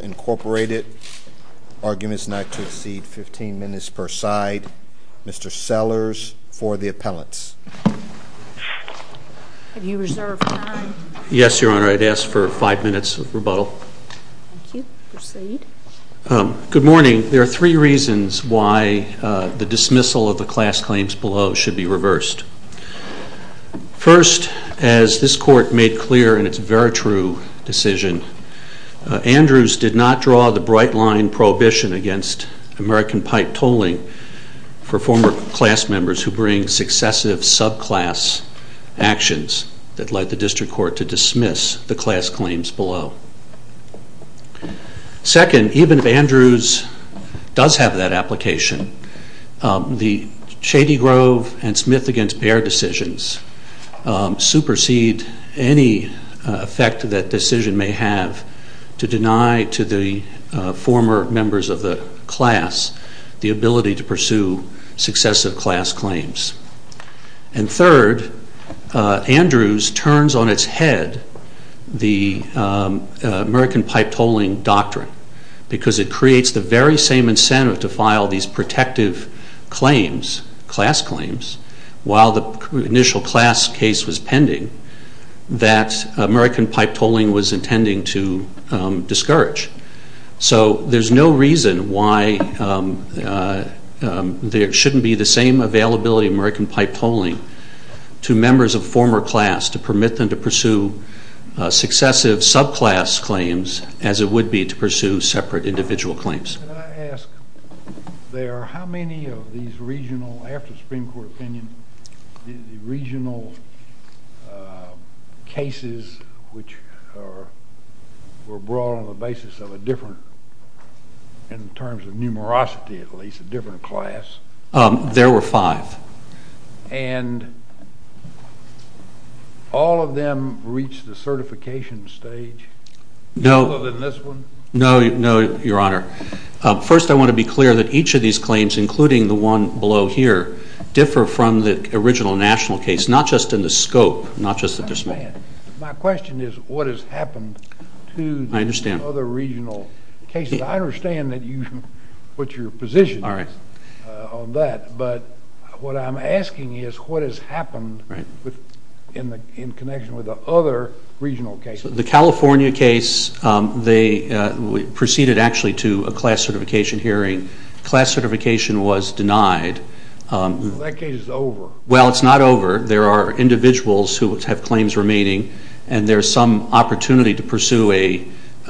Incorporated. Arguments not to exceed 15 minutes per side. Mr. Sellers, for the appellants. Have you reserved time? Yes, Your Honor. I'd ask for five minutes of rebuttal. Thank you. Proceed. Good morning. I'm here to speak on behalf of the District Court. There are three reasons why the dismissal of the class claims below should be reversed. First, as this Court made clear in its veritrue decision, Andrews did not draw the bright line prohibition against American pipe tolling for former class members who bring successive subclass actions that led the District Court to have that application. The Shady Grove and Smith v. Baird decisions supersede any effect that decision may have to deny to the former members of the class the ability to pursue successive class claims. And third, Andrews turns on its head the American pipe tolling doctrine because it creates the very same incentive to file these protective claims, class claims, while the initial class case was pending, that American pipe tolling was intending to discourage. So there's no reason why there shouldn't be the same successive subclass claims as it would be to pursue separate individual claims. Can I ask there, how many of these regional, after the Supreme Court opinion, regional cases which were brought on the basis of a different, in terms of numerosity at least, a different class? There were five. And all of them reached the certification stage? No. Other than this one? No, your Honor. First, I want to be clear that each of these claims, including the one below here, differ from the original national case, not just in the scope, not just the... My question is what has happened to the other regional cases? I understand what your position is on that, but what I'm asking is what has happened in connection with the other regional cases? The California case, they proceeded actually to a class certification hearing. Class certification was denied. That case is over. Well, it's not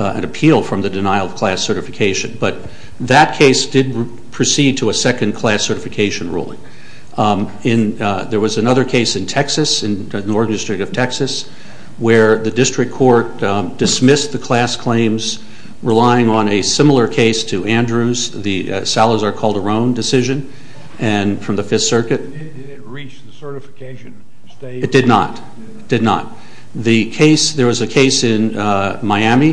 an appeal from the denial of class certification, but that case did proceed to a second class certification ruling. There was another case in Texas, in the Northern District of Texas, where the district court dismissed the class claims, relying on a similar case to Andrews, the Salazar-Calderon decision from the Fifth Circuit. Did it reach the certification stage? It did not. It did not. There was a case in Miami,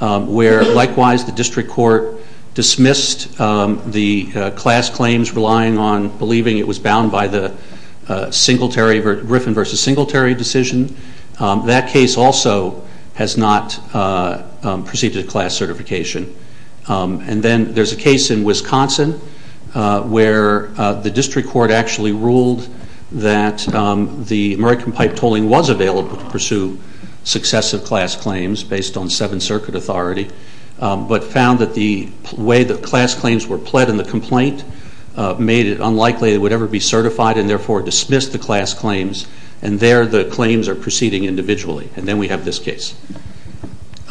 where likewise the district court dismissed the class claims, relying on believing it was bound by the Griffin versus Singletary decision. That case also has not proceeded to class certification. And then there's a case in Wisconsin, where the district court actually ruled that the American pipe tolling was available to pursue successive class claims, based on Seventh Circuit authority, but found that the way that class claims were pled in the complaint made it unlikely it would ever be certified, and therefore dismissed the class claims. And there the claims are proceeding individually. And then we have this case.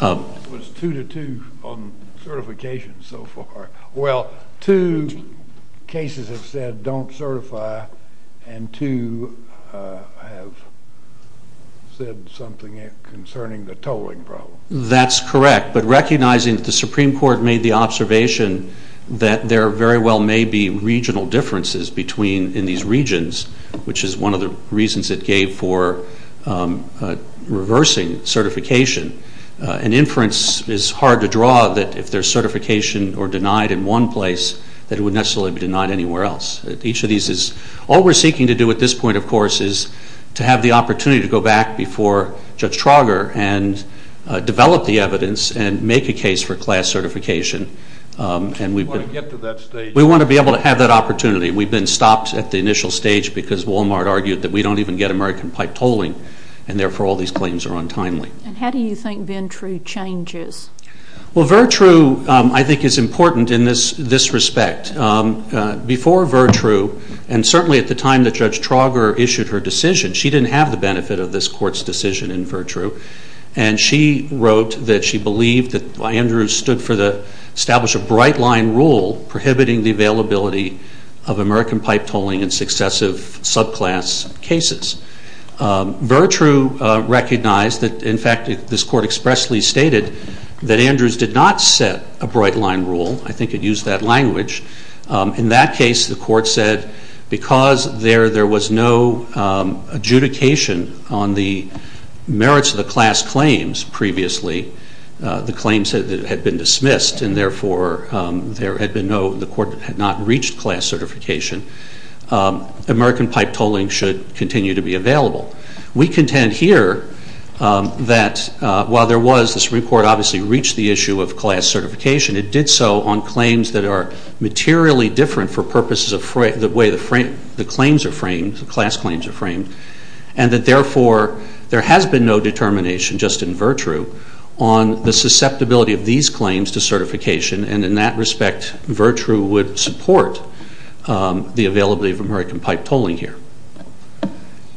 It was two to two on certification so far. Well, two cases have said don't certify, and two have said something concerning the tolling problem. That's correct, but recognizing that the Supreme Court made the observation that there very well may be regional differences between, in these regions, which is one of the reasons it gave for reversing certification. An inference is hard to draw that if there's certification or denied in one place, that it would necessarily be denied anywhere else. All we're seeking to do at this point, of course, is to have the opportunity to go back before Judge Trauger and develop the evidence and make a case for class certification. We want to get to that stage. We want to be able to have that opportunity. We've been stopped at the initial stage because Walmart argued that we don't even get American pipe tolling, and therefore all these claims are untimely. And how do you think Vertrue changes? Well, Vertrue, I think, is important in this respect. Before Vertrue, and certainly at the time that Judge Trauger issued her decision, she didn't have the benefit of this Court's decision in Vertrue. And she wrote that she believed that Andrews established a bright-line rule prohibiting the availability of American pipe tolling in successive subclass cases. Vertrue recognized that in fact this Court expressly stated that Andrews did not set a bright-line rule. I think it used that adjudication on the merits of the class claims previously, the claims that had been dismissed, and therefore there had been no, the Court had not reached class certification. American pipe tolling should continue to be available. We contend here that while there was, this report obviously reached the issue of class certification, it did so on claims that are and that therefore there has been no determination, just in Vertrue, on the susceptibility of these claims to certification. And in that respect, Vertrue would support the availability of American pipe tolling here.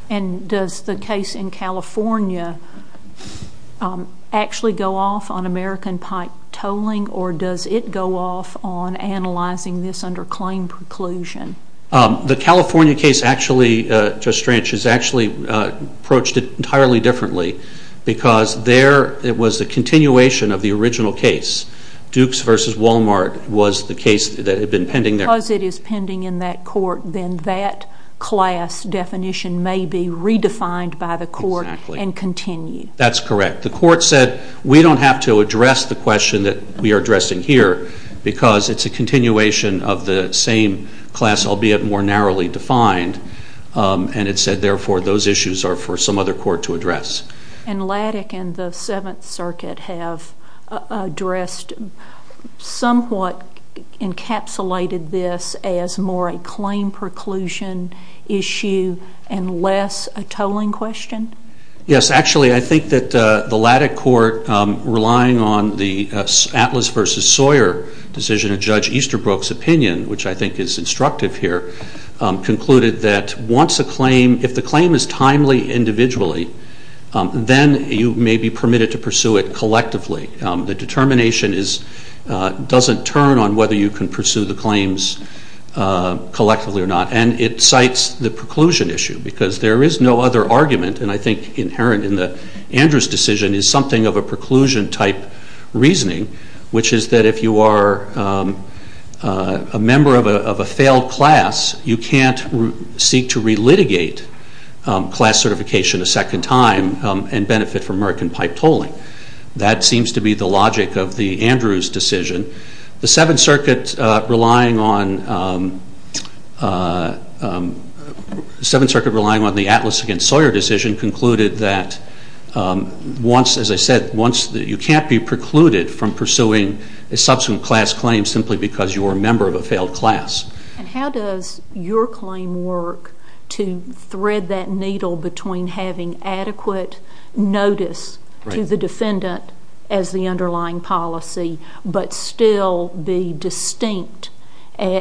And does the case in California actually go off on American pipe tolling or does it go off on analyzing this under claim preclusion? The California case actually, Judge Stranch, has actually approached it entirely differently because there it was a continuation of the original case. Dukes v. Walmart was the case that had been pending there. Because it is pending in that Court, then that class definition may be redefined by the Court and continue. That's correct. The Court said we don't have to address the question that we are addressing here because it's a continuation of the same class, albeit more narrowly defined, and it said therefore those issues are for some other Court to address. And Lattic and the Seventh Circuit have addressed somewhat encapsulated this as more a claim preclusion issue and less a tolling question? Yes, actually I think that the Lattic Court relying on the Atlas v. Sawyer decision of Judge Easterbrook's opinion, which I think is instructive here, concluded that once a claim, if the claim is timely individually, then you may be permitted to pursue it collectively. The determination doesn't turn on whether you can pursue the claims collectively or not. And it cites the preclusion issue because there is no other argument, and I think inherent in the Andrews decision, is something of a preclusion type reasoning, which is that if you are a member of a failed class, you can't seek to re-litigate class certification a second time and benefit from merkin pipe tolling. That seems to be the logic of the Andrews decision. The Seventh Circuit relying on the Atlas v. Sawyer decision concluded that once, as I said, you can't be precluded from pursuing a subsequent class claim simply because you are a member of a failed class, you are having adequate notice to the defendant as the underlying policy, but still be distinct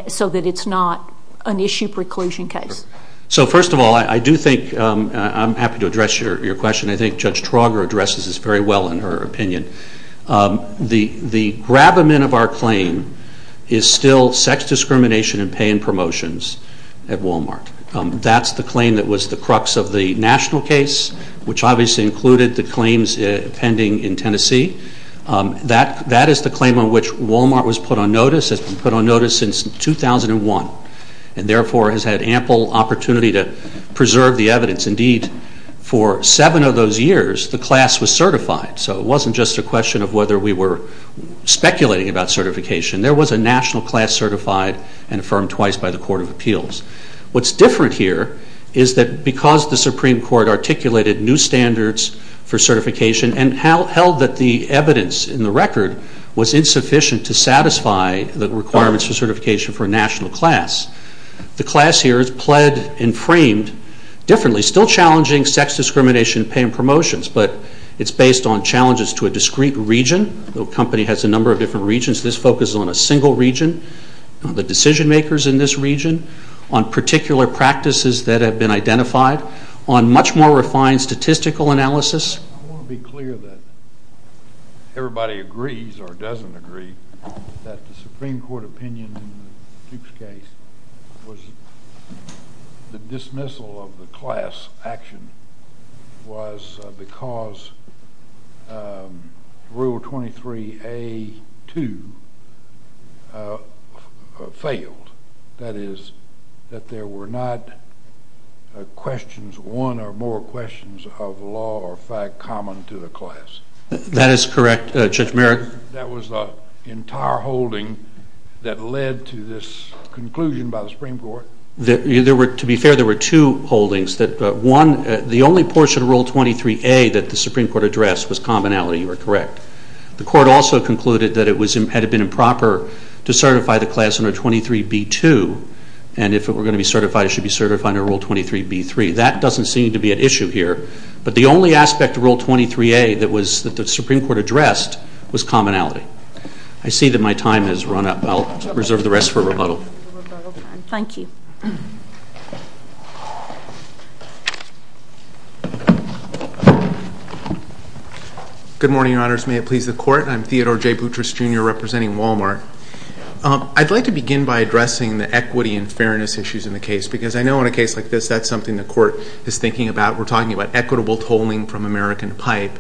so that it's not an issue preclusion case. So first of all, I do think, I'm happy to address your question, I think Judge Trauger addresses this very well in her opinion. The grabment of our claim is still sex discrimination and pay and promotions at Walmart. That's the claim that was the crux of the national case, which obviously included the claims pending in Tennessee. That is the claim on which Walmart was put on notice, has been put on notice since 2001, and therefore has had ample opportunity to preserve the evidence. Indeed, for seven of those years, the class was certified, so it wasn't just a question of whether we were speculating about certification. There was a national class certified and affirmed twice by the Court of Appeals. What's different here is that because the Supreme Court articulated new standards for certification and held that the evidence in the record was insufficient to satisfy the requirements for certification for a national class, the class here has pled and framed differently, still challenging sex discrimination and pay and promotions, but it's based on challenges to a discrete region. The company has a number of different regions. This focuses on a single region, the decision makers in this region, on particular practices that have been identified, on much more refined statistical analysis. I want to be clear that everybody agrees or doesn't agree that the Supreme Court opinion in Duke's case was the dismissal of the class action was because Rule 23A.2 failed. That is, that there were not questions, one or more questions of law or fact common to the class. That is correct, Judge Merrick. That was the entire holding that led to this conclusion by the Supreme Court. To be fair, there were two holdings. One, the only portion of Rule 23A that the Supreme Court addressed was commonality. You are correct. The Court also concluded that it had been improper to certify the class under Rule 23B.2 and if it were going to be certified, it should be certified under Rule 23B.3. That doesn't seem to be an issue here. But the only aspect of Rule 23A that the Supreme Court addressed was commonality. I see that my time has run up. I'll reserve the rest for rebuttal. Thank you. Good morning, Your Honors. May it please the Court. I'm Theodore J. Boutrous, Jr., representing Walmart. I'd like to begin by addressing the equity and fairness issues in the case because I know in a case like this, that's something the Court is thinking about. We're talking about equitable tolling from American Pipe.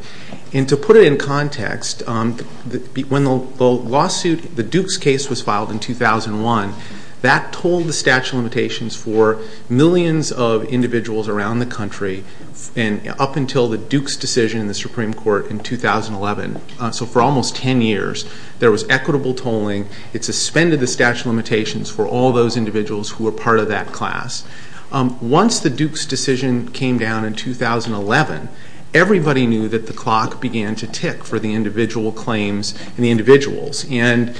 And to put it in context, when the lawsuit, the Dukes case was filed in 2001, that tolled the statute of limitations for millions of individuals around the country. And up until the Dukes decision in the Supreme Court in 2011. So for almost 10 years, there was equitable tolling. It suspended the statute of limitations for all those individuals who were part of that class. Once the Dukes decision came down in 2011, everybody knew that the clock began to tick for the individual claims and the individuals. And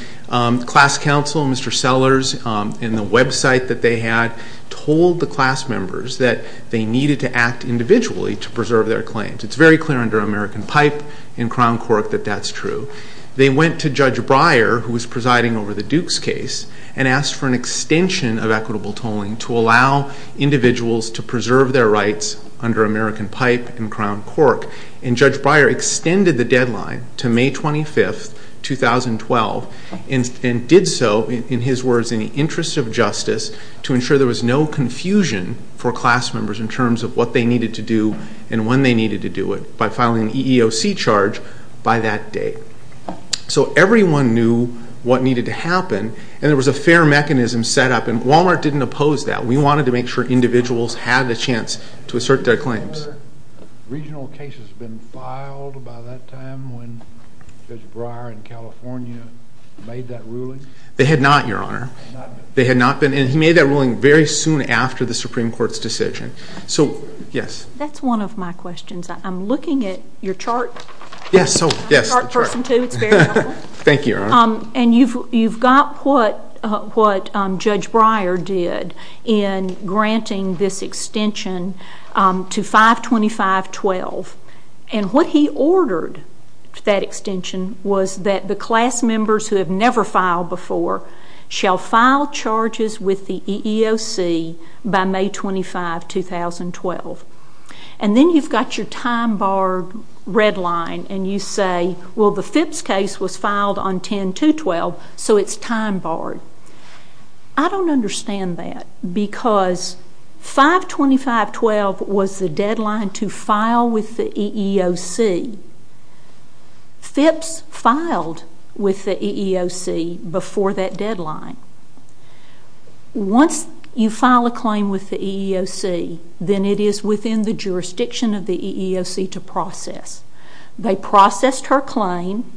class counsel, Mr. Sellers, in the website that they had, told the class members that they needed to act individually to preserve their claims. It's very clear under American Pipe and Crown Court that that's true. They went to Judge Breyer, who was presiding over the Dukes case, and asked for an extension of equitable tolling to allow individuals to preserve their rights under American Pipe and Crown Court. And Judge Breyer extended the deadline to May 25, 2012. And did so, in his words, in the interest of justice to ensure there was no confusion for class members in terms of what they needed to do and when they needed to do it, by filing an EEOC charge by that date. So everyone knew what needed to happen, and there was a fair mechanism set up. And Walmart didn't oppose that. We wanted to make sure individuals had a chance to assert their claims. Have regional cases been filed by that time when Judge Breyer in California made that ruling? They had not, Your Honor. And he made that ruling very soon after the Supreme Court's decision. That's one of my questions. I'm looking at your chart. Thank you, Your Honor. And you've got what Judge Breyer did in granting this extension to 5-25-12. And what he ordered for that extension was that the class members who have never filed before shall file charges with the EEOC by May 25, 2012. And then you've got your time-barred red line and you say, well, the Phipps case was filed on 10-2-12, so it's time-barred. I don't understand that, because 5-25-12 was the deadline to file with the EEOC. Phipps filed with the EEOC before that deadline. Once you file a claim with the EEOC, then it is within the jurisdiction of the EEOC to process. They processed her claim.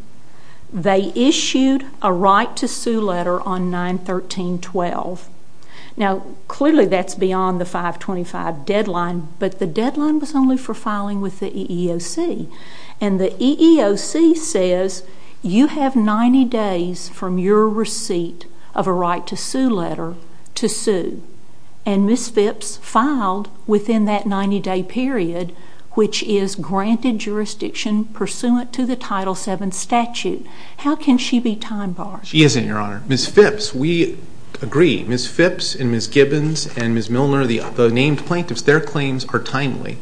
They issued a right-to-sue letter on 9-13-12. Now, clearly that's beyond the 5-25 deadline, but the deadline was only for filing with the EEOC. And the EEOC says you have 90 days from your receipt of a right-to-sue letter to sue. And Ms. Phipps filed within that 90-day period, which is granted jurisdiction pursuant to the Title VII statute. How can she be time-barred? She isn't, Your Honor. Ms. Phipps, we agree. Ms. Phipps and Ms. Gibbons and Ms. Milner, the named plaintiffs, their claims are timely.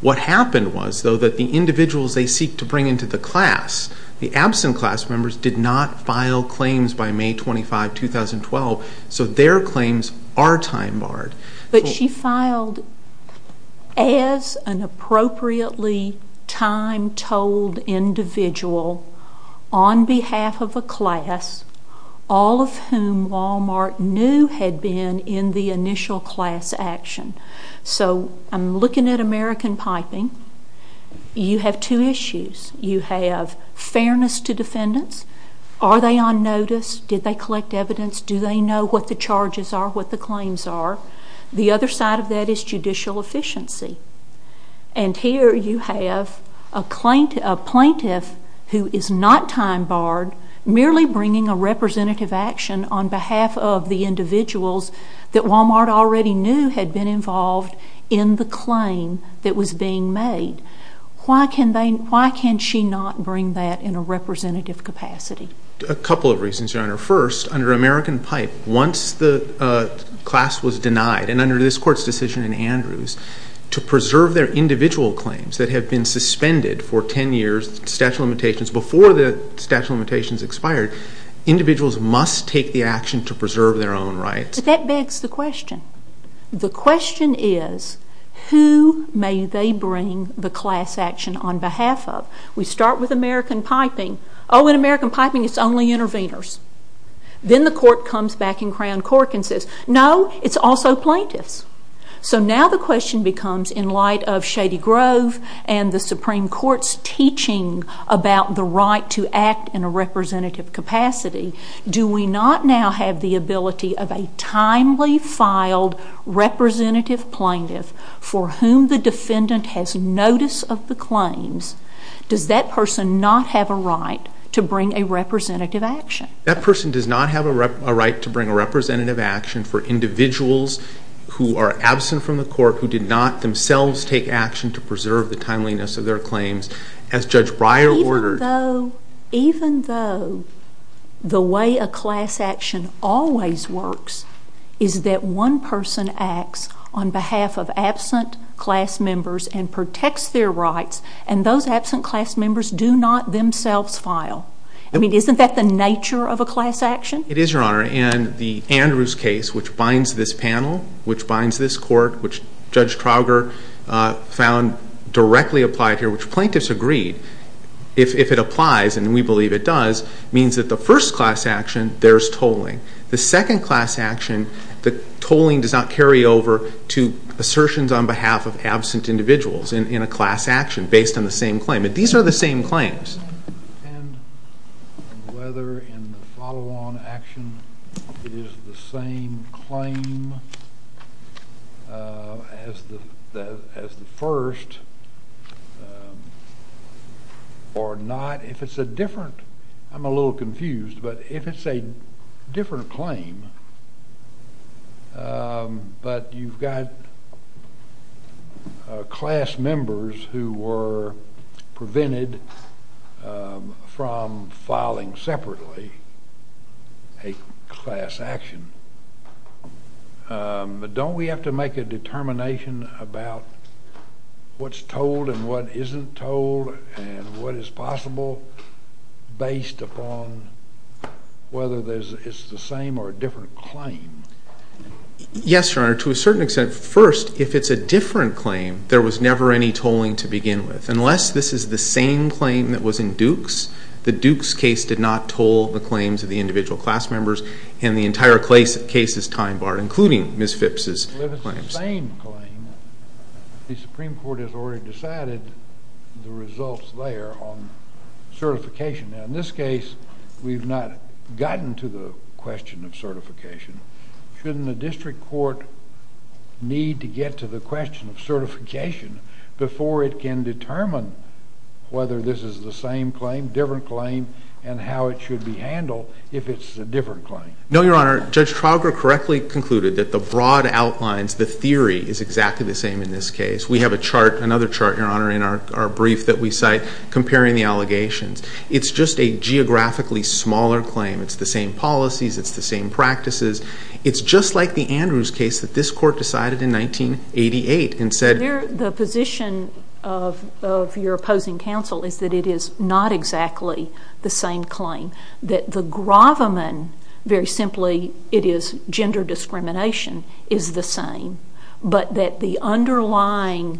What happened was, though, that the individuals they seek to bring into the class, the absent class members did not file claims by May 25, 2012. So their claims are time-barred. But she filed as an appropriately time-told individual on behalf of a class, all of whom Wal-Mart knew had been in the initial class action. So I'm looking at American Piping. You have two issues. You have fairness to defendants. Are they on notice? Did they collect evidence? Do they know what the charges are, what the claims are? The other side of that is judicial efficiency. And here you have a plaintiff who is not time-barred, merely bringing a representative action on behalf of the individuals that Wal-Mart already knew had been involved in the claim that was being made. Why can she not bring that in a representative capacity? A couple of reasons, Your Honor. First, under American Pipe, once the class was denied, and under this Court's decision in Andrews, to preserve their individual claims that had been suspended for 10 years, before the statute of limitations expired, individuals must take the action to preserve their own rights. But that begs the question. The question is, who may they bring the class action on behalf of? We start with American Piping. Oh, in American Piping, it's only interveners. Then the Court comes back in Crown Court and says, no, it's also plaintiffs. So now the question becomes, in light of Shady Grove and the Supreme Court's teaching about the right to act in a representative capacity, do we not now have the ability of a timely filed representative plaintiff for whom the defendant has notice of the claims? Does that person not have a right to bring a representative action? That person does not have a right to bring a representative action for individuals who are absent from the court, who did not themselves take action to preserve the timeliness of their claims, as Judge Breyer ordered. Even though the way a class action always works is that one person acts on behalf of absent class members and protects their rights, and those absent class members do not themselves file. I mean, isn't that the nature of a class action? It is, Your Honor. And the Andrews case, which binds this panel, which binds this court, which Judge Trauger found directly applied here, which plaintiffs agreed, if it applies, and we believe it does, means that the first class action, there's tolling. The second class action, the tolling does not carry over to assertions on behalf of absent individuals in a class action based on the same claim. These are the same claims. And whether in the follow-on action it is the same claim as the first or not, if it's a different, I'm a little confused, but if it's a different claim, but you've got class members who were prevented from filing separately a class action, but don't we have to make a determination about what's tolled and what isn't tolled and what is possible based upon whether it's the same or a different claim? Yes, Your Honor, to a certain extent. First, if it's a different claim, there was never any tolling to begin with. Unless this is the same claim that was in Duke's, the Duke's case did not toll the claims of the individual class members, and the entire case is time-barred, including Ms. Phipps' claims. But if it's the same claim, the Supreme Court has already decided the results there on certification. Now, in this case, we've not gotten to the question of certification. Shouldn't the district court need to get to the question of certification before it can determine whether this is the same claim, different claim, and how it should be handled if it's a different claim? No, Your Honor. Judge Trauger correctly concluded that the broad outlines, the theory, is exactly the same in this case. We have a chart, another chart, Your Honor, in our brief that we cite comparing the allegations. It's just a geographically smaller claim. It's the same policies. It's the same practices. It's just like the Andrews case that this court decided in 1988 and said— The position of your opposing counsel is that it is not exactly the same claim, that the gravamen, very simply, it is gender discrimination, is the same, but that the underlying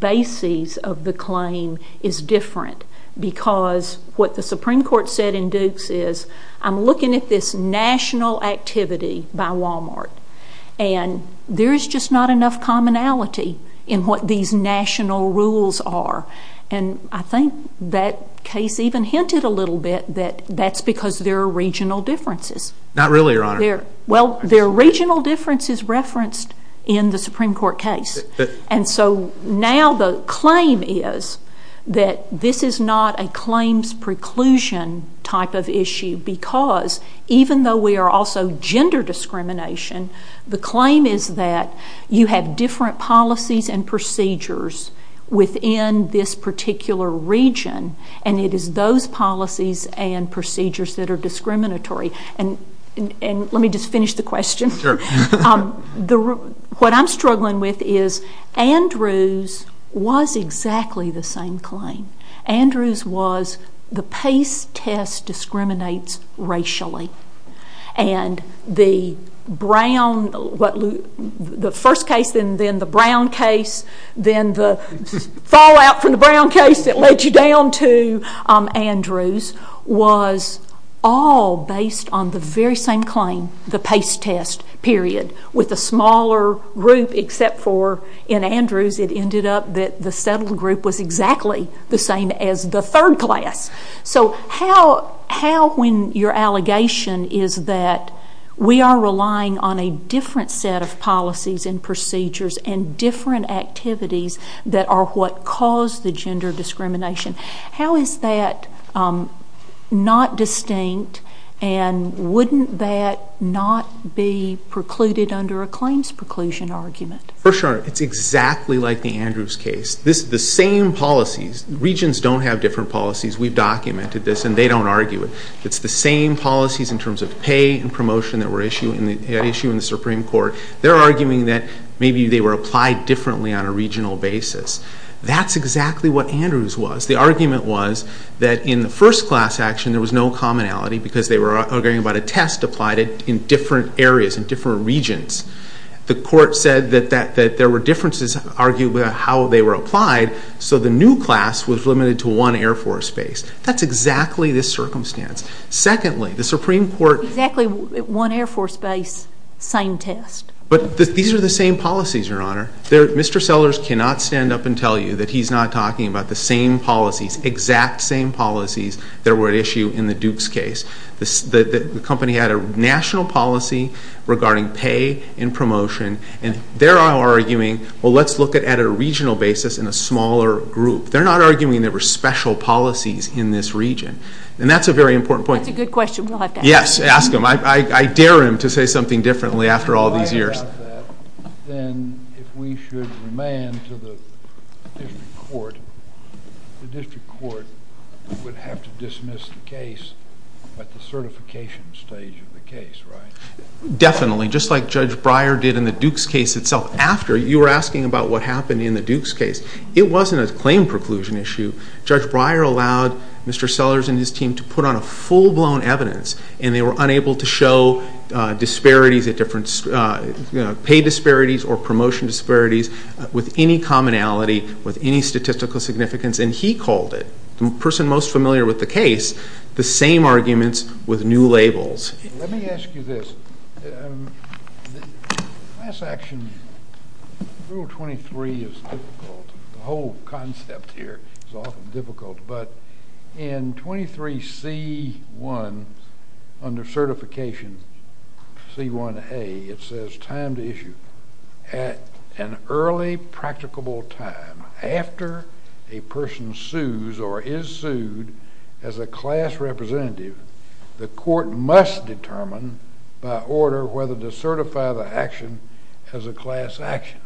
bases of the claim is different because what the Supreme Court said in Dukes is, I'm looking at this national activity by Walmart, and there is just not enough commonality in what these national rules are. And I think that case even hinted a little bit that that's because there are regional differences. Not really, Your Honor. Well, there are regional differences referenced in the Supreme Court case. And so now the claim is that this is not a claims preclusion type of issue because even though we are also gender discrimination, the claim is that you have different policies and procedures within this particular region, and it is those policies and procedures that are discriminatory. And let me just finish the question. Sure. What I'm struggling with is Andrews was exactly the same claim. Andrews was the PACE test discriminates racially. And the first case, then the Brown case, then the fallout from the Brown case that led you down to Andrews was all based on the very same claim, the PACE test, period, with a smaller group except for in Andrews it ended up that the settled group was exactly the same as the third class. So how, when your allegation is that we are relying on a different set of policies and procedures and different activities that are what cause the gender discrimination, how is that not distinct and wouldn't that not be precluded under a claims preclusion argument? First, Your Honor, it's exactly like the Andrews case. This is the same policies. Regions don't have different policies. We've documented this, and they don't argue it. It's the same policies in terms of pay and promotion that were at issue in the Supreme Court. They're arguing that maybe they were applied differently on a regional basis. That's exactly what Andrews was. The argument was that in the first class action there was no commonality because they were arguing about a test applied in different areas, in different regions. The court said that there were differences argued about how they were applied, so the new class was limited to one Air Force base. That's exactly this circumstance. Secondly, the Supreme Court- Exactly one Air Force base, same test. But these are the same policies, Your Honor. Mr. Sellers cannot stand up and tell you that he's not talking about the same policies, exact same policies that were at issue in the Dukes case. The company had a national policy regarding pay and promotion, and they're arguing, well, let's look at a regional basis in a smaller group. They're not arguing there were special policies in this region, and that's a very important point. That's a good question. We'll have to ask him. Yes, ask him. I dare him to say something differently after all these years. Then if we should remand to the district court, the district court would have to dismiss the case at the certification stage of the case, right? Definitely, just like Judge Breyer did in the Dukes case itself. After, you were asking about what happened in the Dukes case. It wasn't a claim preclusion issue. Judge Breyer allowed Mr. Sellers and his team to put on a full-blown evidence, and they were unable to show disparities at different- pay disparities or promotion disparities with any commonality, with any statistical significance, and he called it, the person most familiar with the case, the same arguments with new labels. Let me ask you this. Class action, Rule 23 is difficult. The whole concept here is often difficult, but in 23C1, under Certification C1A, it says time to issue. At an early practicable time, after a person sues or is sued as a class representative, the court must determine by order whether to certify the action as a class action.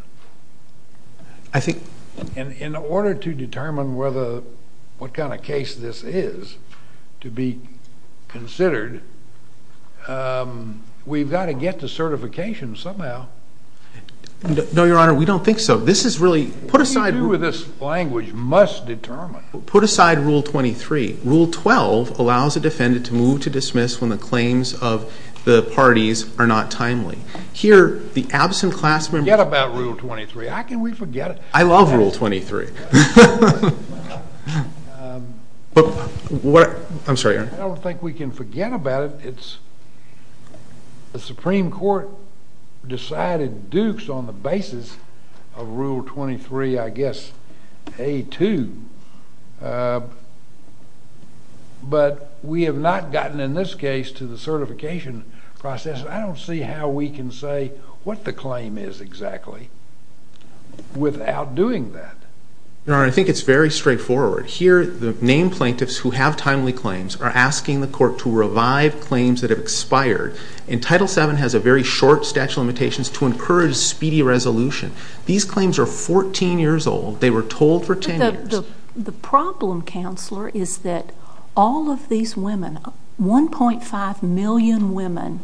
I think- In order to determine what kind of case this is to be considered, we've got to get to certification somehow. No, Your Honor, we don't think so. This is really- What do you do with this language, must determine? Put aside Rule 23. Rule 12 allows a defendant to move to dismiss when the claims of the parties are not timely. Here, the absent class member- Forget about Rule 23. How can we forget it? I love Rule 23. I'm sorry, Your Honor. I don't think we can forget about it. The Supreme Court decided Dukes on the basis of Rule 23, I guess, A2. But we have not gotten, in this case, to the certification process. I don't see how we can say what the claim is exactly without doing that. Your Honor, I think it's very straightforward. Here, the named plaintiffs who have timely claims are asking the court to revive claims that have expired. And Title VII has a very short statute of limitations to encourage speedy resolution. These claims are 14 years old. They were told for 10 years. The problem, Counselor, is that all of these women, 1.5 million women,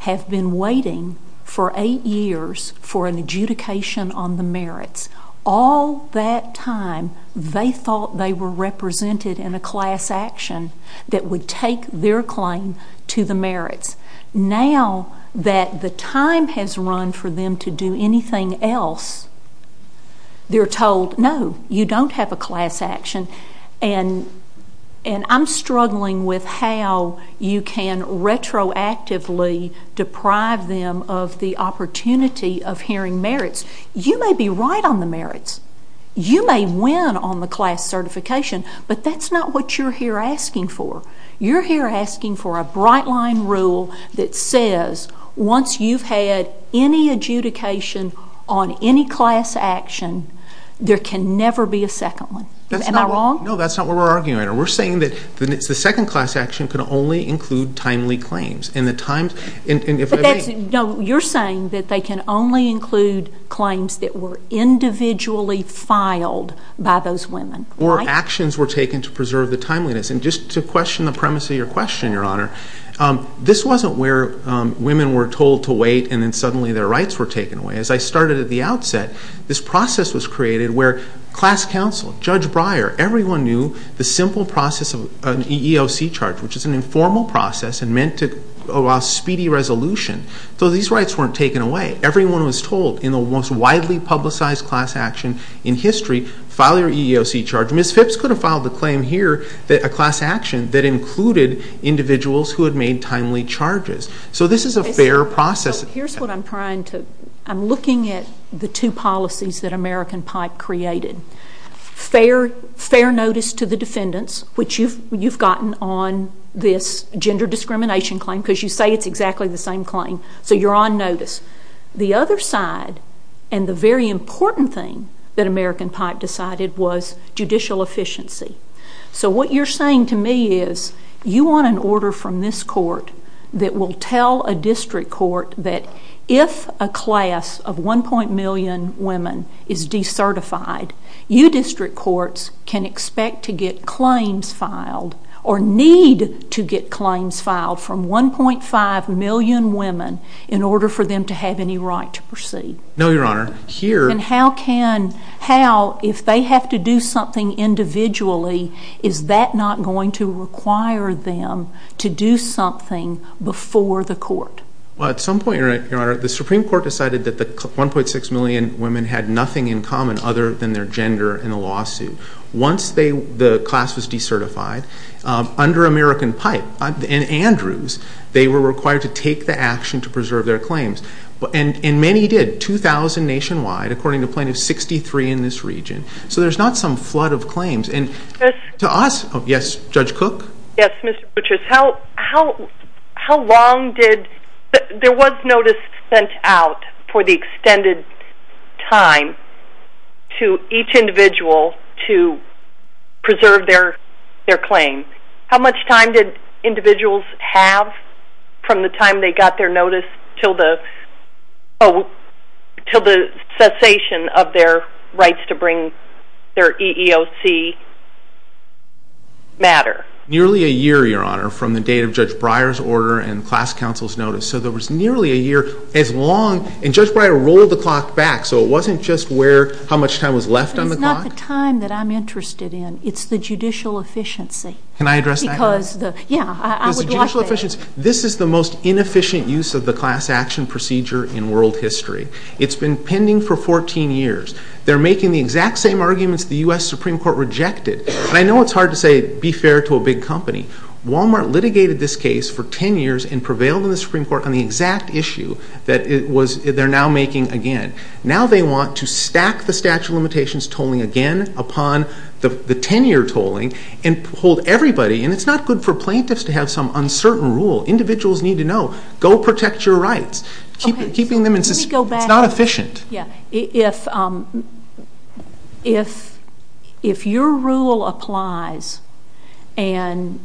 have been waiting for eight years for an adjudication on the merits. All that time, they thought they were represented in a class action that would take their claim to the merits. Now that the time has run for them to do anything else, they're told, No, you don't have a class action. And I'm struggling with how you can retroactively deprive them of the opportunity of hearing merits. You may be right on the merits. You may win on the class certification. But that's not what you're here asking for. You're here asking for a bright-line rule that says once you've had any adjudication on any class action, there can never be a second one. Am I wrong? No, that's not what we're arguing right now. We're saying that the second class action can only include timely claims. But you're saying that they can only include claims that were individually filed by those women, right? Or actions were taken to preserve the timeliness. And just to question the premise of your question, Your Honor, this wasn't where women were told to wait and then suddenly their rights were taken away. As I started at the outset, this process was created where class counsel, Judge Breyer, everyone knew the simple process of an EEOC charge, which is an informal process and meant to allow speedy resolution. So these rights weren't taken away. Everyone was told in the most widely publicized class action in history, file your EEOC charge. Ms. Phipps could have filed the claim here, a class action that included individuals who had made timely charges. So this is a fair process. Here's what I'm trying to do. I'm looking at the two policies that American Pipe created. Fair notice to the defendants, which you've gotten on this gender discrimination claim because you say it's exactly the same claim, so you're on notice. The other side and the very important thing that American Pipe decided was judicial efficiency. So what you're saying to me is you want an order from this court that will tell a district court that if a class of 1. million women is decertified, you district courts can expect to get claims filed or need to get claims filed from 1.5 million women in order for them to have any right to proceed. No, Your Honor. And how can, how, if they have to do something individually, is that not going to require them to do something before the court? Well, at some point, Your Honor, the Supreme Court decided that the 1.6 million women had nothing in common other than their gender in a lawsuit. Once the class was decertified, under American Pipe and Andrews, they were required to take the action to preserve their claims. And many did, 2,000 nationwide, according to Plaintiff 63 in this region. So there's not some flood of claims. And to us, yes, Judge Cook? Yes, Mr. Buttress. How long did, there was notice sent out for the extended time to each individual to preserve their claim. How much time did individuals have from the time they got their notice until the cessation of their rights to bring their EEOC matter? Nearly a year, Your Honor, from the date of Judge Breyer's order and class counsel's notice. So there was nearly a year as long, and Judge Breyer rolled the clock back, so it wasn't just where, how much time was left on the clock. It's not the time that I'm interested in. It's the judicial efficiency. Because, yeah, I would like that. Judicial efficiency, this is the most inefficient use of the class action procedure in world history. It's been pending for 14 years. They're making the exact same arguments the U.S. Supreme Court rejected. And I know it's hard to say be fair to a big company. Walmart litigated this case for 10 years and prevailed in the Supreme Court on the exact issue that it was, they're now making again. Now they want to stack the statute of limitations tolling again upon the 10-year tolling and hold everybody, and it's not good for plaintiffs to have some uncertain rule. Individuals need to know, go protect your rights. Keeping them in, it's not efficient. Yeah, if your rule applies and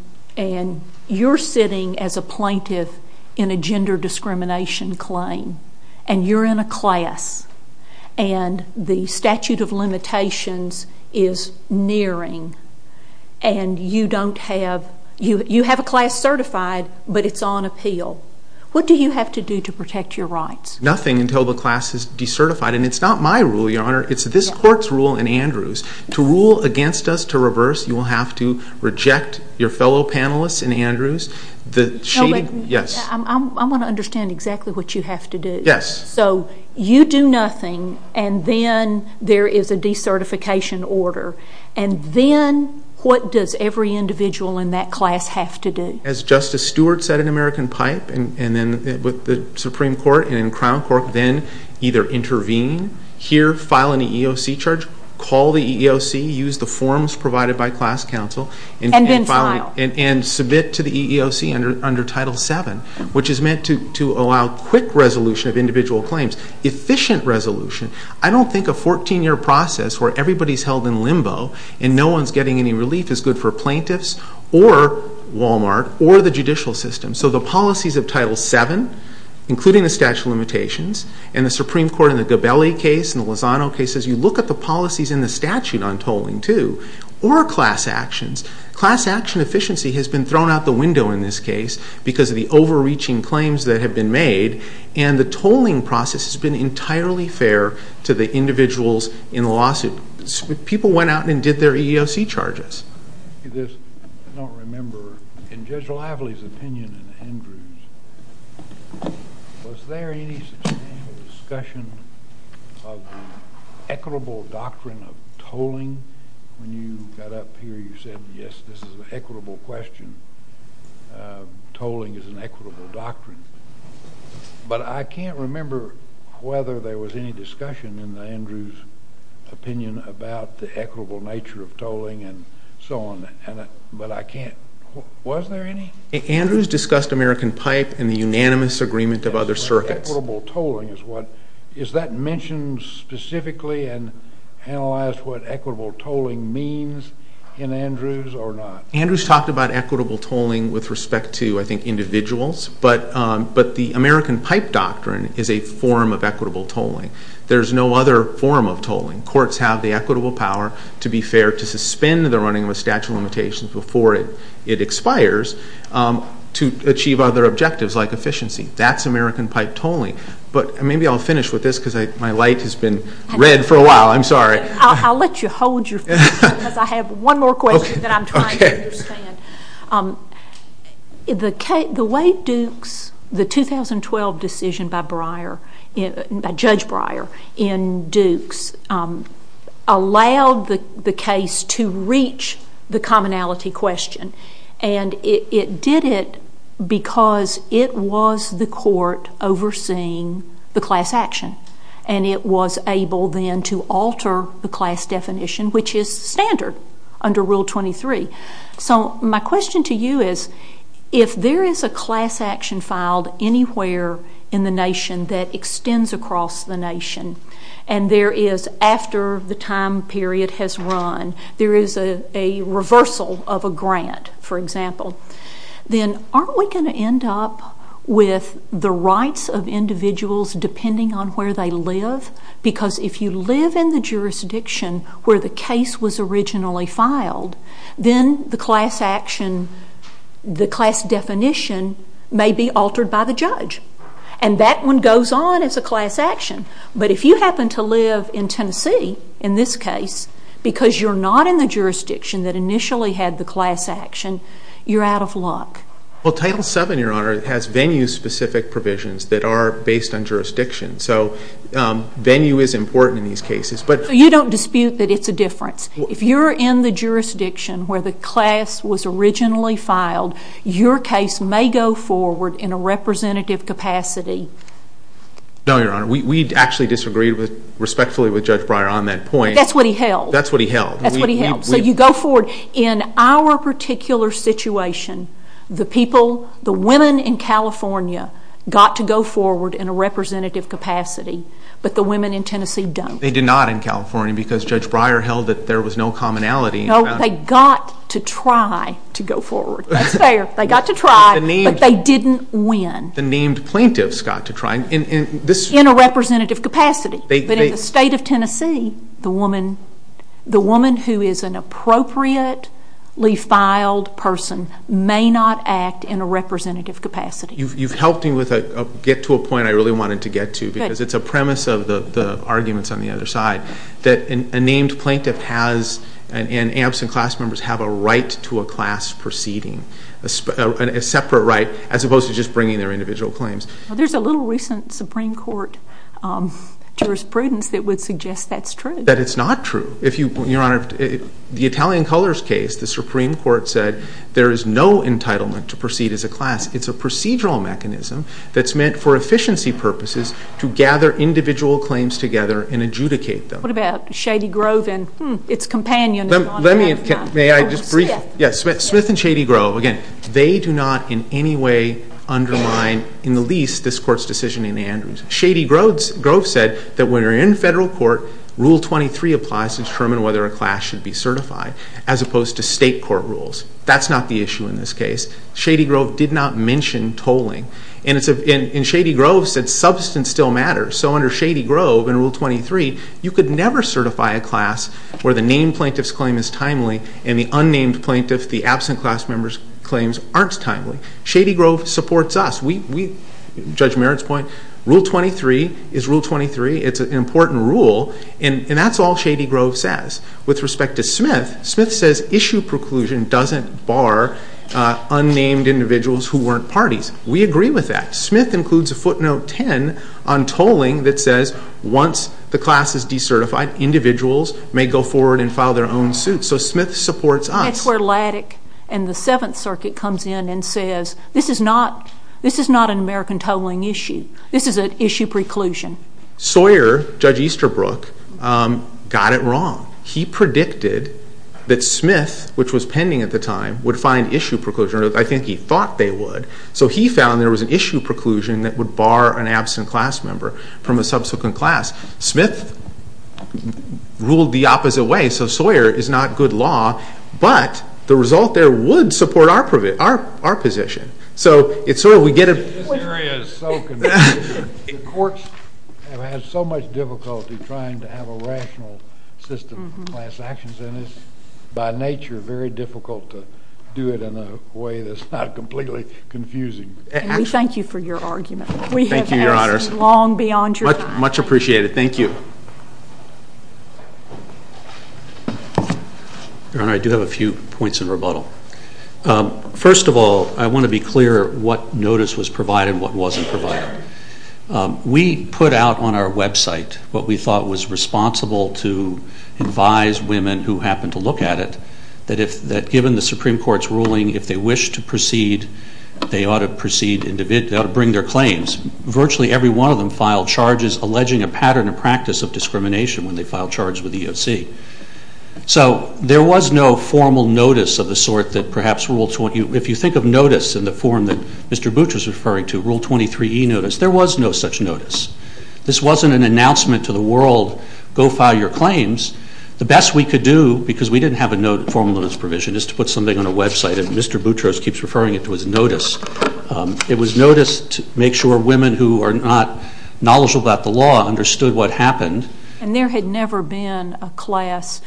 you're sitting as a plaintiff in a gender discrimination claim and you're in a class and the statute of limitations is nearing and you don't have, you have a class certified, but it's on appeal, what do you have to do to protect your rights? Nothing until the class is decertified. And it's not my rule, Your Honor. It's this court's rule in Andrews. To rule against us, to reverse, you will have to reject your fellow panelists in Andrews. I want to understand exactly what you have to do. Yes. So you do nothing and then there is a decertification order. And then what does every individual in that class have to do? As Justice Stewart said in American Pipe and then with the Supreme Court and in Crown Court, then either intervene, hear, file an EEOC charge, call the EEOC, use the forms provided by class counsel, And then file. And submit to the EEOC under Title VII, which is meant to allow quick resolution of individual claims. Efficient resolution. I don't think a 14-year process where everybody is held in limbo and no one is getting any relief is good for plaintiffs or Walmart or the judicial system. So the policies of Title VII, including the statute of limitations, and the Supreme Court in the Gabelli case and the Lozano case, as you look at the policies in the statute on tolling too, or class actions, class action efficiency has been thrown out the window in this case because of the overreaching claims that have been made. And the tolling process has been entirely fair to the individuals in the lawsuit. People went out and did their EEOC charges. I don't remember. In Judge Lively's opinion and Andrew's, was there any sustainable discussion of equitable doctrine of tolling? When you got up here, you said, yes, this is an equitable question. Tolling is an equitable doctrine. But I can't remember whether there was any discussion in Andrew's opinion about the equitable nature of tolling and so on, but I can't. Was there any? Andrew's discussed American pipe and the unanimous agreement of other circuits. Equitable tolling, is that mentioned specifically and analyzed what equitable tolling means in Andrew's or not? Andrew's talked about equitable tolling with respect to, I think, individuals, but the American pipe doctrine is a form of equitable tolling. There is no other form of tolling. Courts have the equitable power, to be fair, to suspend the running of a statute of limitations before it expires to achieve other objectives like efficiency. That's American pipe tolling. But maybe I'll finish with this because my light has been red for a while. I'm sorry. I'll let you hold your finger because I have one more question that I'm trying to understand. The way Dukes, the 2012 decision by Judge Breyer in Dukes, allowed the case to reach the commonality question and it did it because it was the court overseeing the class action and it was able then to alter the class definition, which is standard under Rule 23. So my question to you is if there is a class action filed anywhere in the nation that extends across the nation and there is, after the time period has run, there is a reversal of a grant, for example, then aren't we going to end up with the rights of individuals depending on where they live? Because if you live in the jurisdiction where the case was originally filed, then the class definition may be altered by the judge. And that one goes on as a class action. But if you happen to live in Tennessee, in this case, because you're not in the jurisdiction that initially had the class action, you're out of luck. Well, Title VII, Your Honor, has venue-specific provisions that are based on jurisdiction. So venue is important in these cases. You don't dispute that it's a difference. If you're in the jurisdiction where the class was originally filed, your case may go forward in a representative capacity. No, Your Honor. We actually disagreed respectfully with Judge Breyer on that point. That's what he held. That's what he held. That's what he held. So you go forward. In our particular situation, the people, the women in California, got to go forward in a representative capacity, but the women in Tennessee don't. They did not in California because Judge Breyer held that there was no commonality. No, they got to try to go forward. That's fair. They got to try, but they didn't win. The named plaintiffs got to try. In a representative capacity. But in the state of Tennessee, the woman who is an appropriately filed person may not act in a representative capacity. You've helped me get to a point I really wanted to get to because it's a premise of the arguments on the other side, that a named plaintiff has, and absent class members, have a right to a class proceeding, a separate right, as opposed to just bringing their individual claims. There's a little recent Supreme Court jurisprudence that would suggest that's true. That it's not true. Your Honor, the Italian Colors case, the Supreme Court said, there is no entitlement to proceed as a class. It's a procedural mechanism that's meant for efficiency purposes to gather individual claims together and adjudicate them. What about Shady Grove and its companion? May I just briefly? Smith. Smith and Shady Grove. Again, they do not in any way undermine, in the least, this Court's decision in Andrews. Shady Grove said that when you're in federal court, Rule 23 applies to determine whether a class should be certified, as opposed to state court rules. That's not the issue in this case. Shady Grove did not mention tolling. And Shady Grove said substance still matters. So under Shady Grove in Rule 23, you could never certify a class where the named plaintiff's claim is timely and the unnamed plaintiff, the absent class member's claims aren't timely. Shady Grove supports us. Judge Merritt's point, Rule 23 is Rule 23. It's an important rule. And that's all Shady Grove says. With respect to Smith, Smith says issue preclusion doesn't bar unnamed individuals who weren't parties. We agree with that. Smith includes a footnote 10 on tolling that says once the class is decertified, individuals may go forward and file their own suits. So Smith supports us. That's where Laddick and the Seventh Circuit comes in and says, this is not an American tolling issue. This is an issue preclusion. Sawyer, Judge Easterbrook, got it wrong. He predicted that Smith, which was pending at the time, would find issue preclusion. I think he thought they would. So he found there was an issue preclusion that would bar an absent class member from a subsequent class. Smith ruled the opposite way. So Sawyer is not good law, but the result there would support our position. This area is so confusing. The courts have had so much difficulty trying to have a rational system of class actions, and it's by nature very difficult to do it in a way that's not completely confusing. We thank you for your argument. We have asked long beyond your time. Much appreciated. Thank you. Your Honor, I do have a few points in rebuttal. First of all, I want to be clear what notice was provided and what wasn't provided. We put out on our website what we thought was responsible to advise women who happened to look at it, that given the Supreme Court's ruling, if they wish to proceed, they ought to bring their claims. Virtually every one of them filed charges alleging a pattern of practice of discrimination when they filed charges with the EOC. So there was no formal notice of the sort that perhaps Rule 20, if you think of notice in the form that Mr. Boutros is referring to, Rule 23E notice, there was no such notice. This wasn't an announcement to the world, go file your claims. The best we could do, because we didn't have a formal notice provision, is to put something on a website, and Mr. Boutros keeps referring it to as notice. It was notice to make sure women who are not knowledgeable about the law understood what happened. And there had never been a class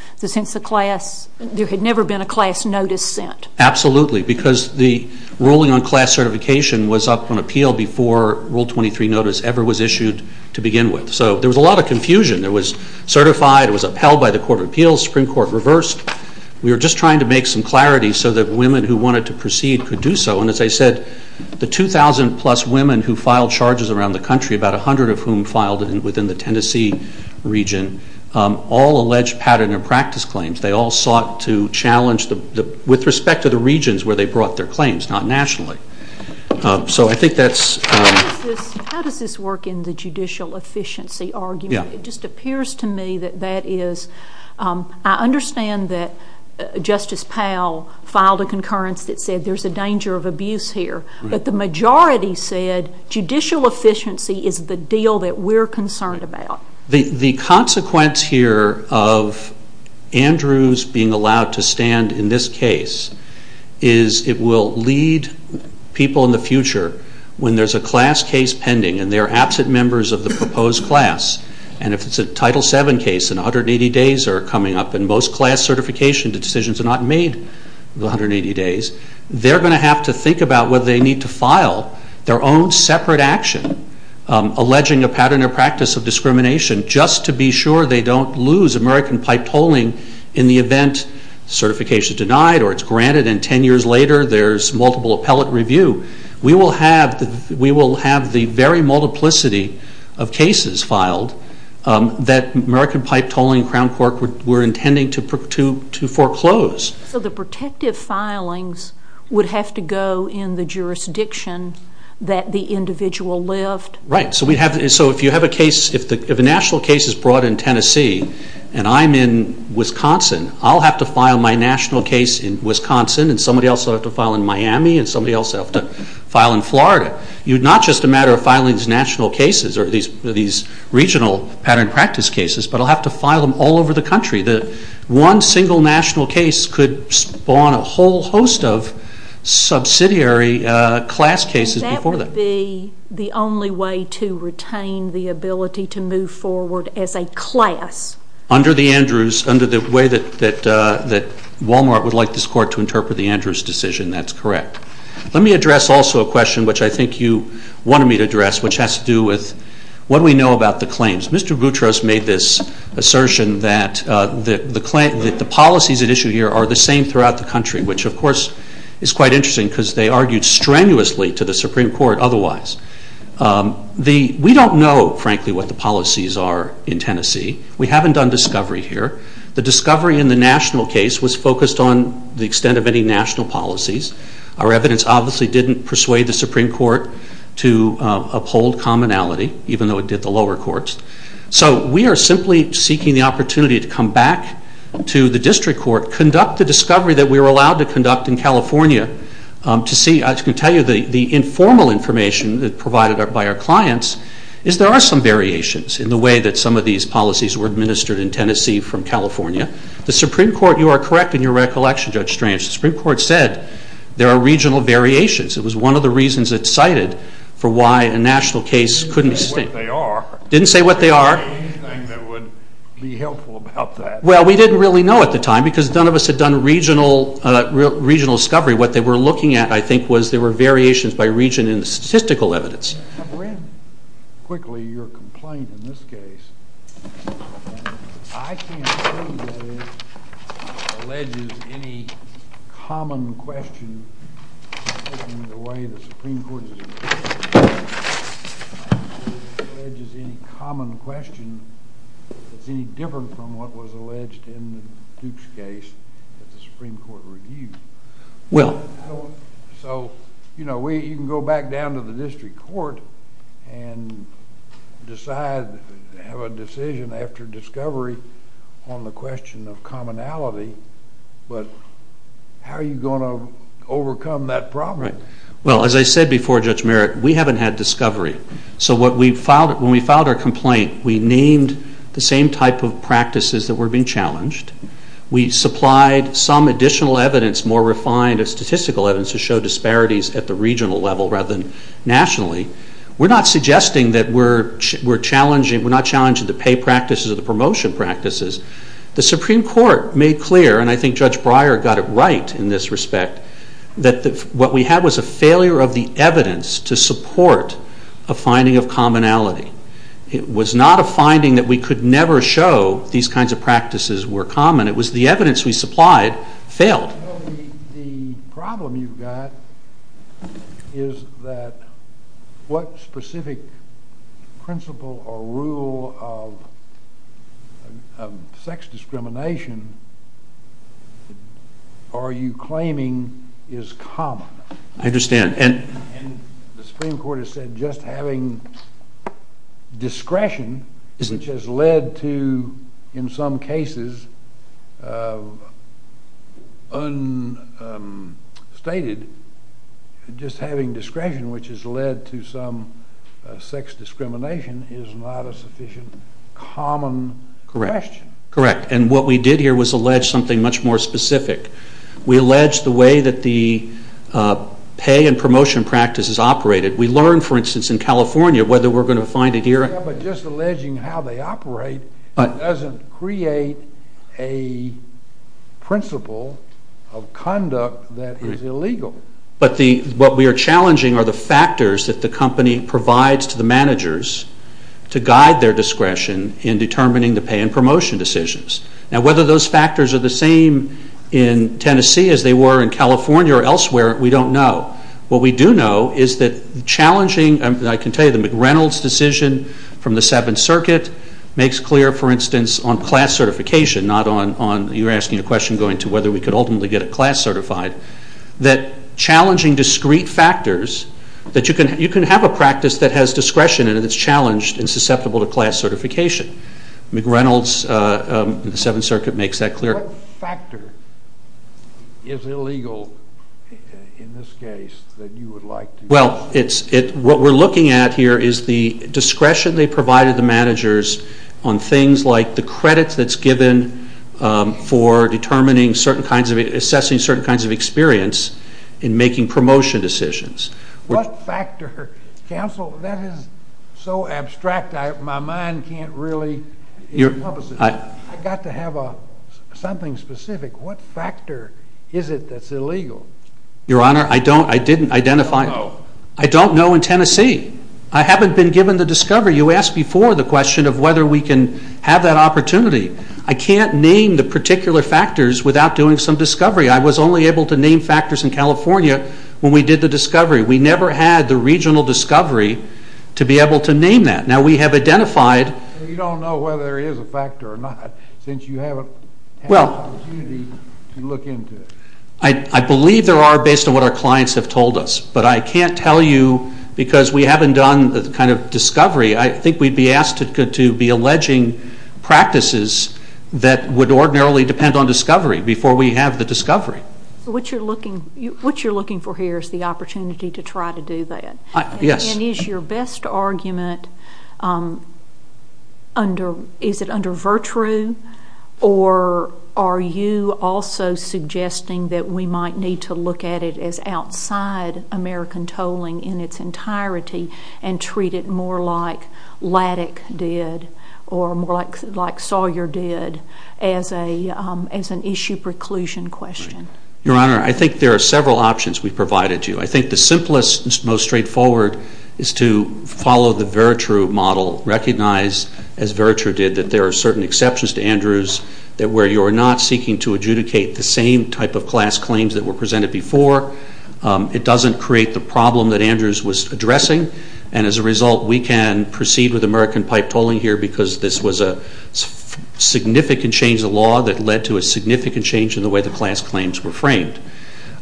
notice sent? Absolutely, because the ruling on class certification was up on appeal before Rule 23 notice ever was issued to begin with. So there was a lot of confusion. It was certified, it was upheld by the Court of Appeals, Supreme Court reversed. We were just trying to make some clarity so that women who wanted to proceed could do so. And as I said, the 2,000-plus women who filed charges around the country, about 100 of whom filed within the Tennessee region, all alleged pattern of practice claims. They all sought to challenge with respect to the regions where they brought their claims, not nationally. So I think that's... How does this work in the judicial efficiency argument? It just appears to me that that is... I understand that Justice Powell filed a concurrence that said there's a danger of abuse here. But the majority said judicial efficiency is the deal that we're concerned about. The consequence here of Andrews being allowed to stand in this case is it will lead people in the future when there's a class case pending and they're absent members of the proposed class. And if it's a Title VII case and 180 days are coming up and most class certifications and decisions are not made in the 180 days, they're going to have to think about whether they need to file their own separate action alleging a pattern of practice of discrimination just to be sure they don't lose American pipe tolling in the event certification denied or it's granted and 10 years later there's multiple appellate review. We will have the very multiplicity of cases filed that American pipe tolling, Crown Cork were intending to foreclose. So the protective filings would have to go in the jurisdiction that the individual lived? Right. So if a national case is brought in Tennessee and I'm in Wisconsin, I'll have to file my national case in Wisconsin and somebody else will have to file in Miami and somebody else will have to file in Florida. It's not just a matter of filing these national cases or these regional pattern practice cases, but I'll have to file them all over the country. One single national case could spawn a whole host of subsidiary class cases before that. And that would be the only way to retain the ability to move forward as a class? Under the Andrews, under the way that Walmart would like this court to interpret the Andrews decision, that's correct. Let me address also a question which I think you wanted me to address, which has to do with what do we know about the claims? Mr. Gutros made this assertion that the policies at issue here are the same throughout the country, which of course is quite interesting because they argued strenuously to the Supreme Court otherwise. We don't know frankly what the policies are in Tennessee. We haven't done discovery here. The discovery in the national case was focused on the extent of any national policies. Our evidence obviously didn't persuade the Supreme Court to uphold commonality, even though it did the lower courts. So we are simply seeking the opportunity to come back to the district court, conduct the discovery that we were allowed to conduct in California to see. I can tell you the informal information provided by our clients is there are some variations in the way that some of these policies were administered in Tennessee from California. The Supreme Court, you are correct in your recollection, Judge Strange, the Supreme Court said there are regional variations. It was one of the reasons it cited for why a national case couldn't be sustained. Didn't say what they are. Didn't say what they are. Anything that would be helpful about that. Well, we didn't really know at the time because none of us had done regional discovery. What they were looking at I think was there were variations by region in the statistical evidence. Quickly, your complaint in this case, I can't prove that it alleges any common question in the way the Supreme Court is interpreting it. I can't prove it alleges any common question that's any different from what was alleged in Duke's case that the Supreme Court reviewed. Well. So, you know, you can go back down to the district court and decide, have a decision after discovery on the question of commonality, but how are you going to overcome that problem? Right. Well, as I said before, Judge Merritt, we haven't had discovery. So when we filed our complaint, we named the same type of practices that were being challenged. We supplied some additional evidence, more refined statistical evidence, to show disparities at the regional level rather than nationally. We're not suggesting that we're challenging, we're not challenging the pay practices or the promotion practices. The Supreme Court made clear, and I think Judge Breyer got it right in this respect, that what we had was a failure of the evidence to support a finding of commonality. It was not a finding that we could never show these kinds of practices were common. It was the evidence we supplied failed. The problem you've got is that what specific principle or rule of sex discrimination are you claiming is common? I understand. The Supreme Court has said just having discretion, which has led to, in some cases, unstated, just having discretion, which has led to some sex discrimination, is not a sufficient common question. Correct. And what we did here was allege something much more specific. We allege the way that the pay and promotion practices operated. We learned, for instance, in California whether we're going to find it here. Yeah, but just alleging how they operate doesn't create a principle of conduct that is illegal. But what we are challenging are the factors that the company provides to the managers to guide their discretion in determining the pay and promotion decisions. Now, whether those factors are the same in Tennessee as they were in California or elsewhere, we don't know. What we do know is that challenging, I can tell you, the McReynolds decision from the Seventh Circuit makes clear, for instance, on class certification, not on you asking a question going to whether we could ultimately get a class certified, that challenging discrete factors that you can have a practice that has discretion and it's challenged and susceptible to class certification. McReynolds in the Seventh Circuit makes that clear. What factor is illegal in this case that you would like to? Well, what we're looking at here is the discretion they provided the managers on things like the credit that's given for determining certain kinds of, assessing certain kinds of experience in making promotion decisions. What factor, counsel, that is so abstract. My mind can't really encompass it. I've got to have something specific. What factor is it that's illegal? Your Honor, I don't, I didn't identify. I don't know. I don't know in Tennessee. I haven't been given the discovery. You asked before the question of whether we can have that opportunity. I can't name the particular factors without doing some discovery. I was only able to name factors in California when we did the discovery. We never had the regional discovery to be able to name that. Now, we have identified. You don't know whether there is a factor or not since you haven't had the opportunity to look into it. I believe there are based on what our clients have told us. But I can't tell you because we haven't done the kind of discovery. I think we'd be asked to be alleging practices that would ordinarily depend on discovery before we have the discovery. What you're looking for here is the opportunity to try to do that. Yes. And is your best argument under, is it under virtue or are you also suggesting that we might need to look at it as outside American tolling in its entirety and treat it more like Laddick did or more like Sawyer did as an issue preclusion question? Your Honor, I think there are several options we've provided you. I think the simplest and most straightforward is to follow the Veritru model. Recognize, as Veritru did, that there are certain exceptions to Andrews where you're not seeking to adjudicate the same type of class claims that were presented before. It doesn't create the problem that Andrews was addressing. And as a result, we can proceed with American pipe tolling here because this was a significant change of law that led to a significant change in the way the class claims were framed.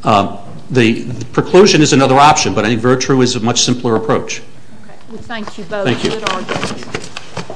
The preclusion is another option, but I think Veritru is a much simpler approach. Okay. We thank you both. Thank you. Good argument.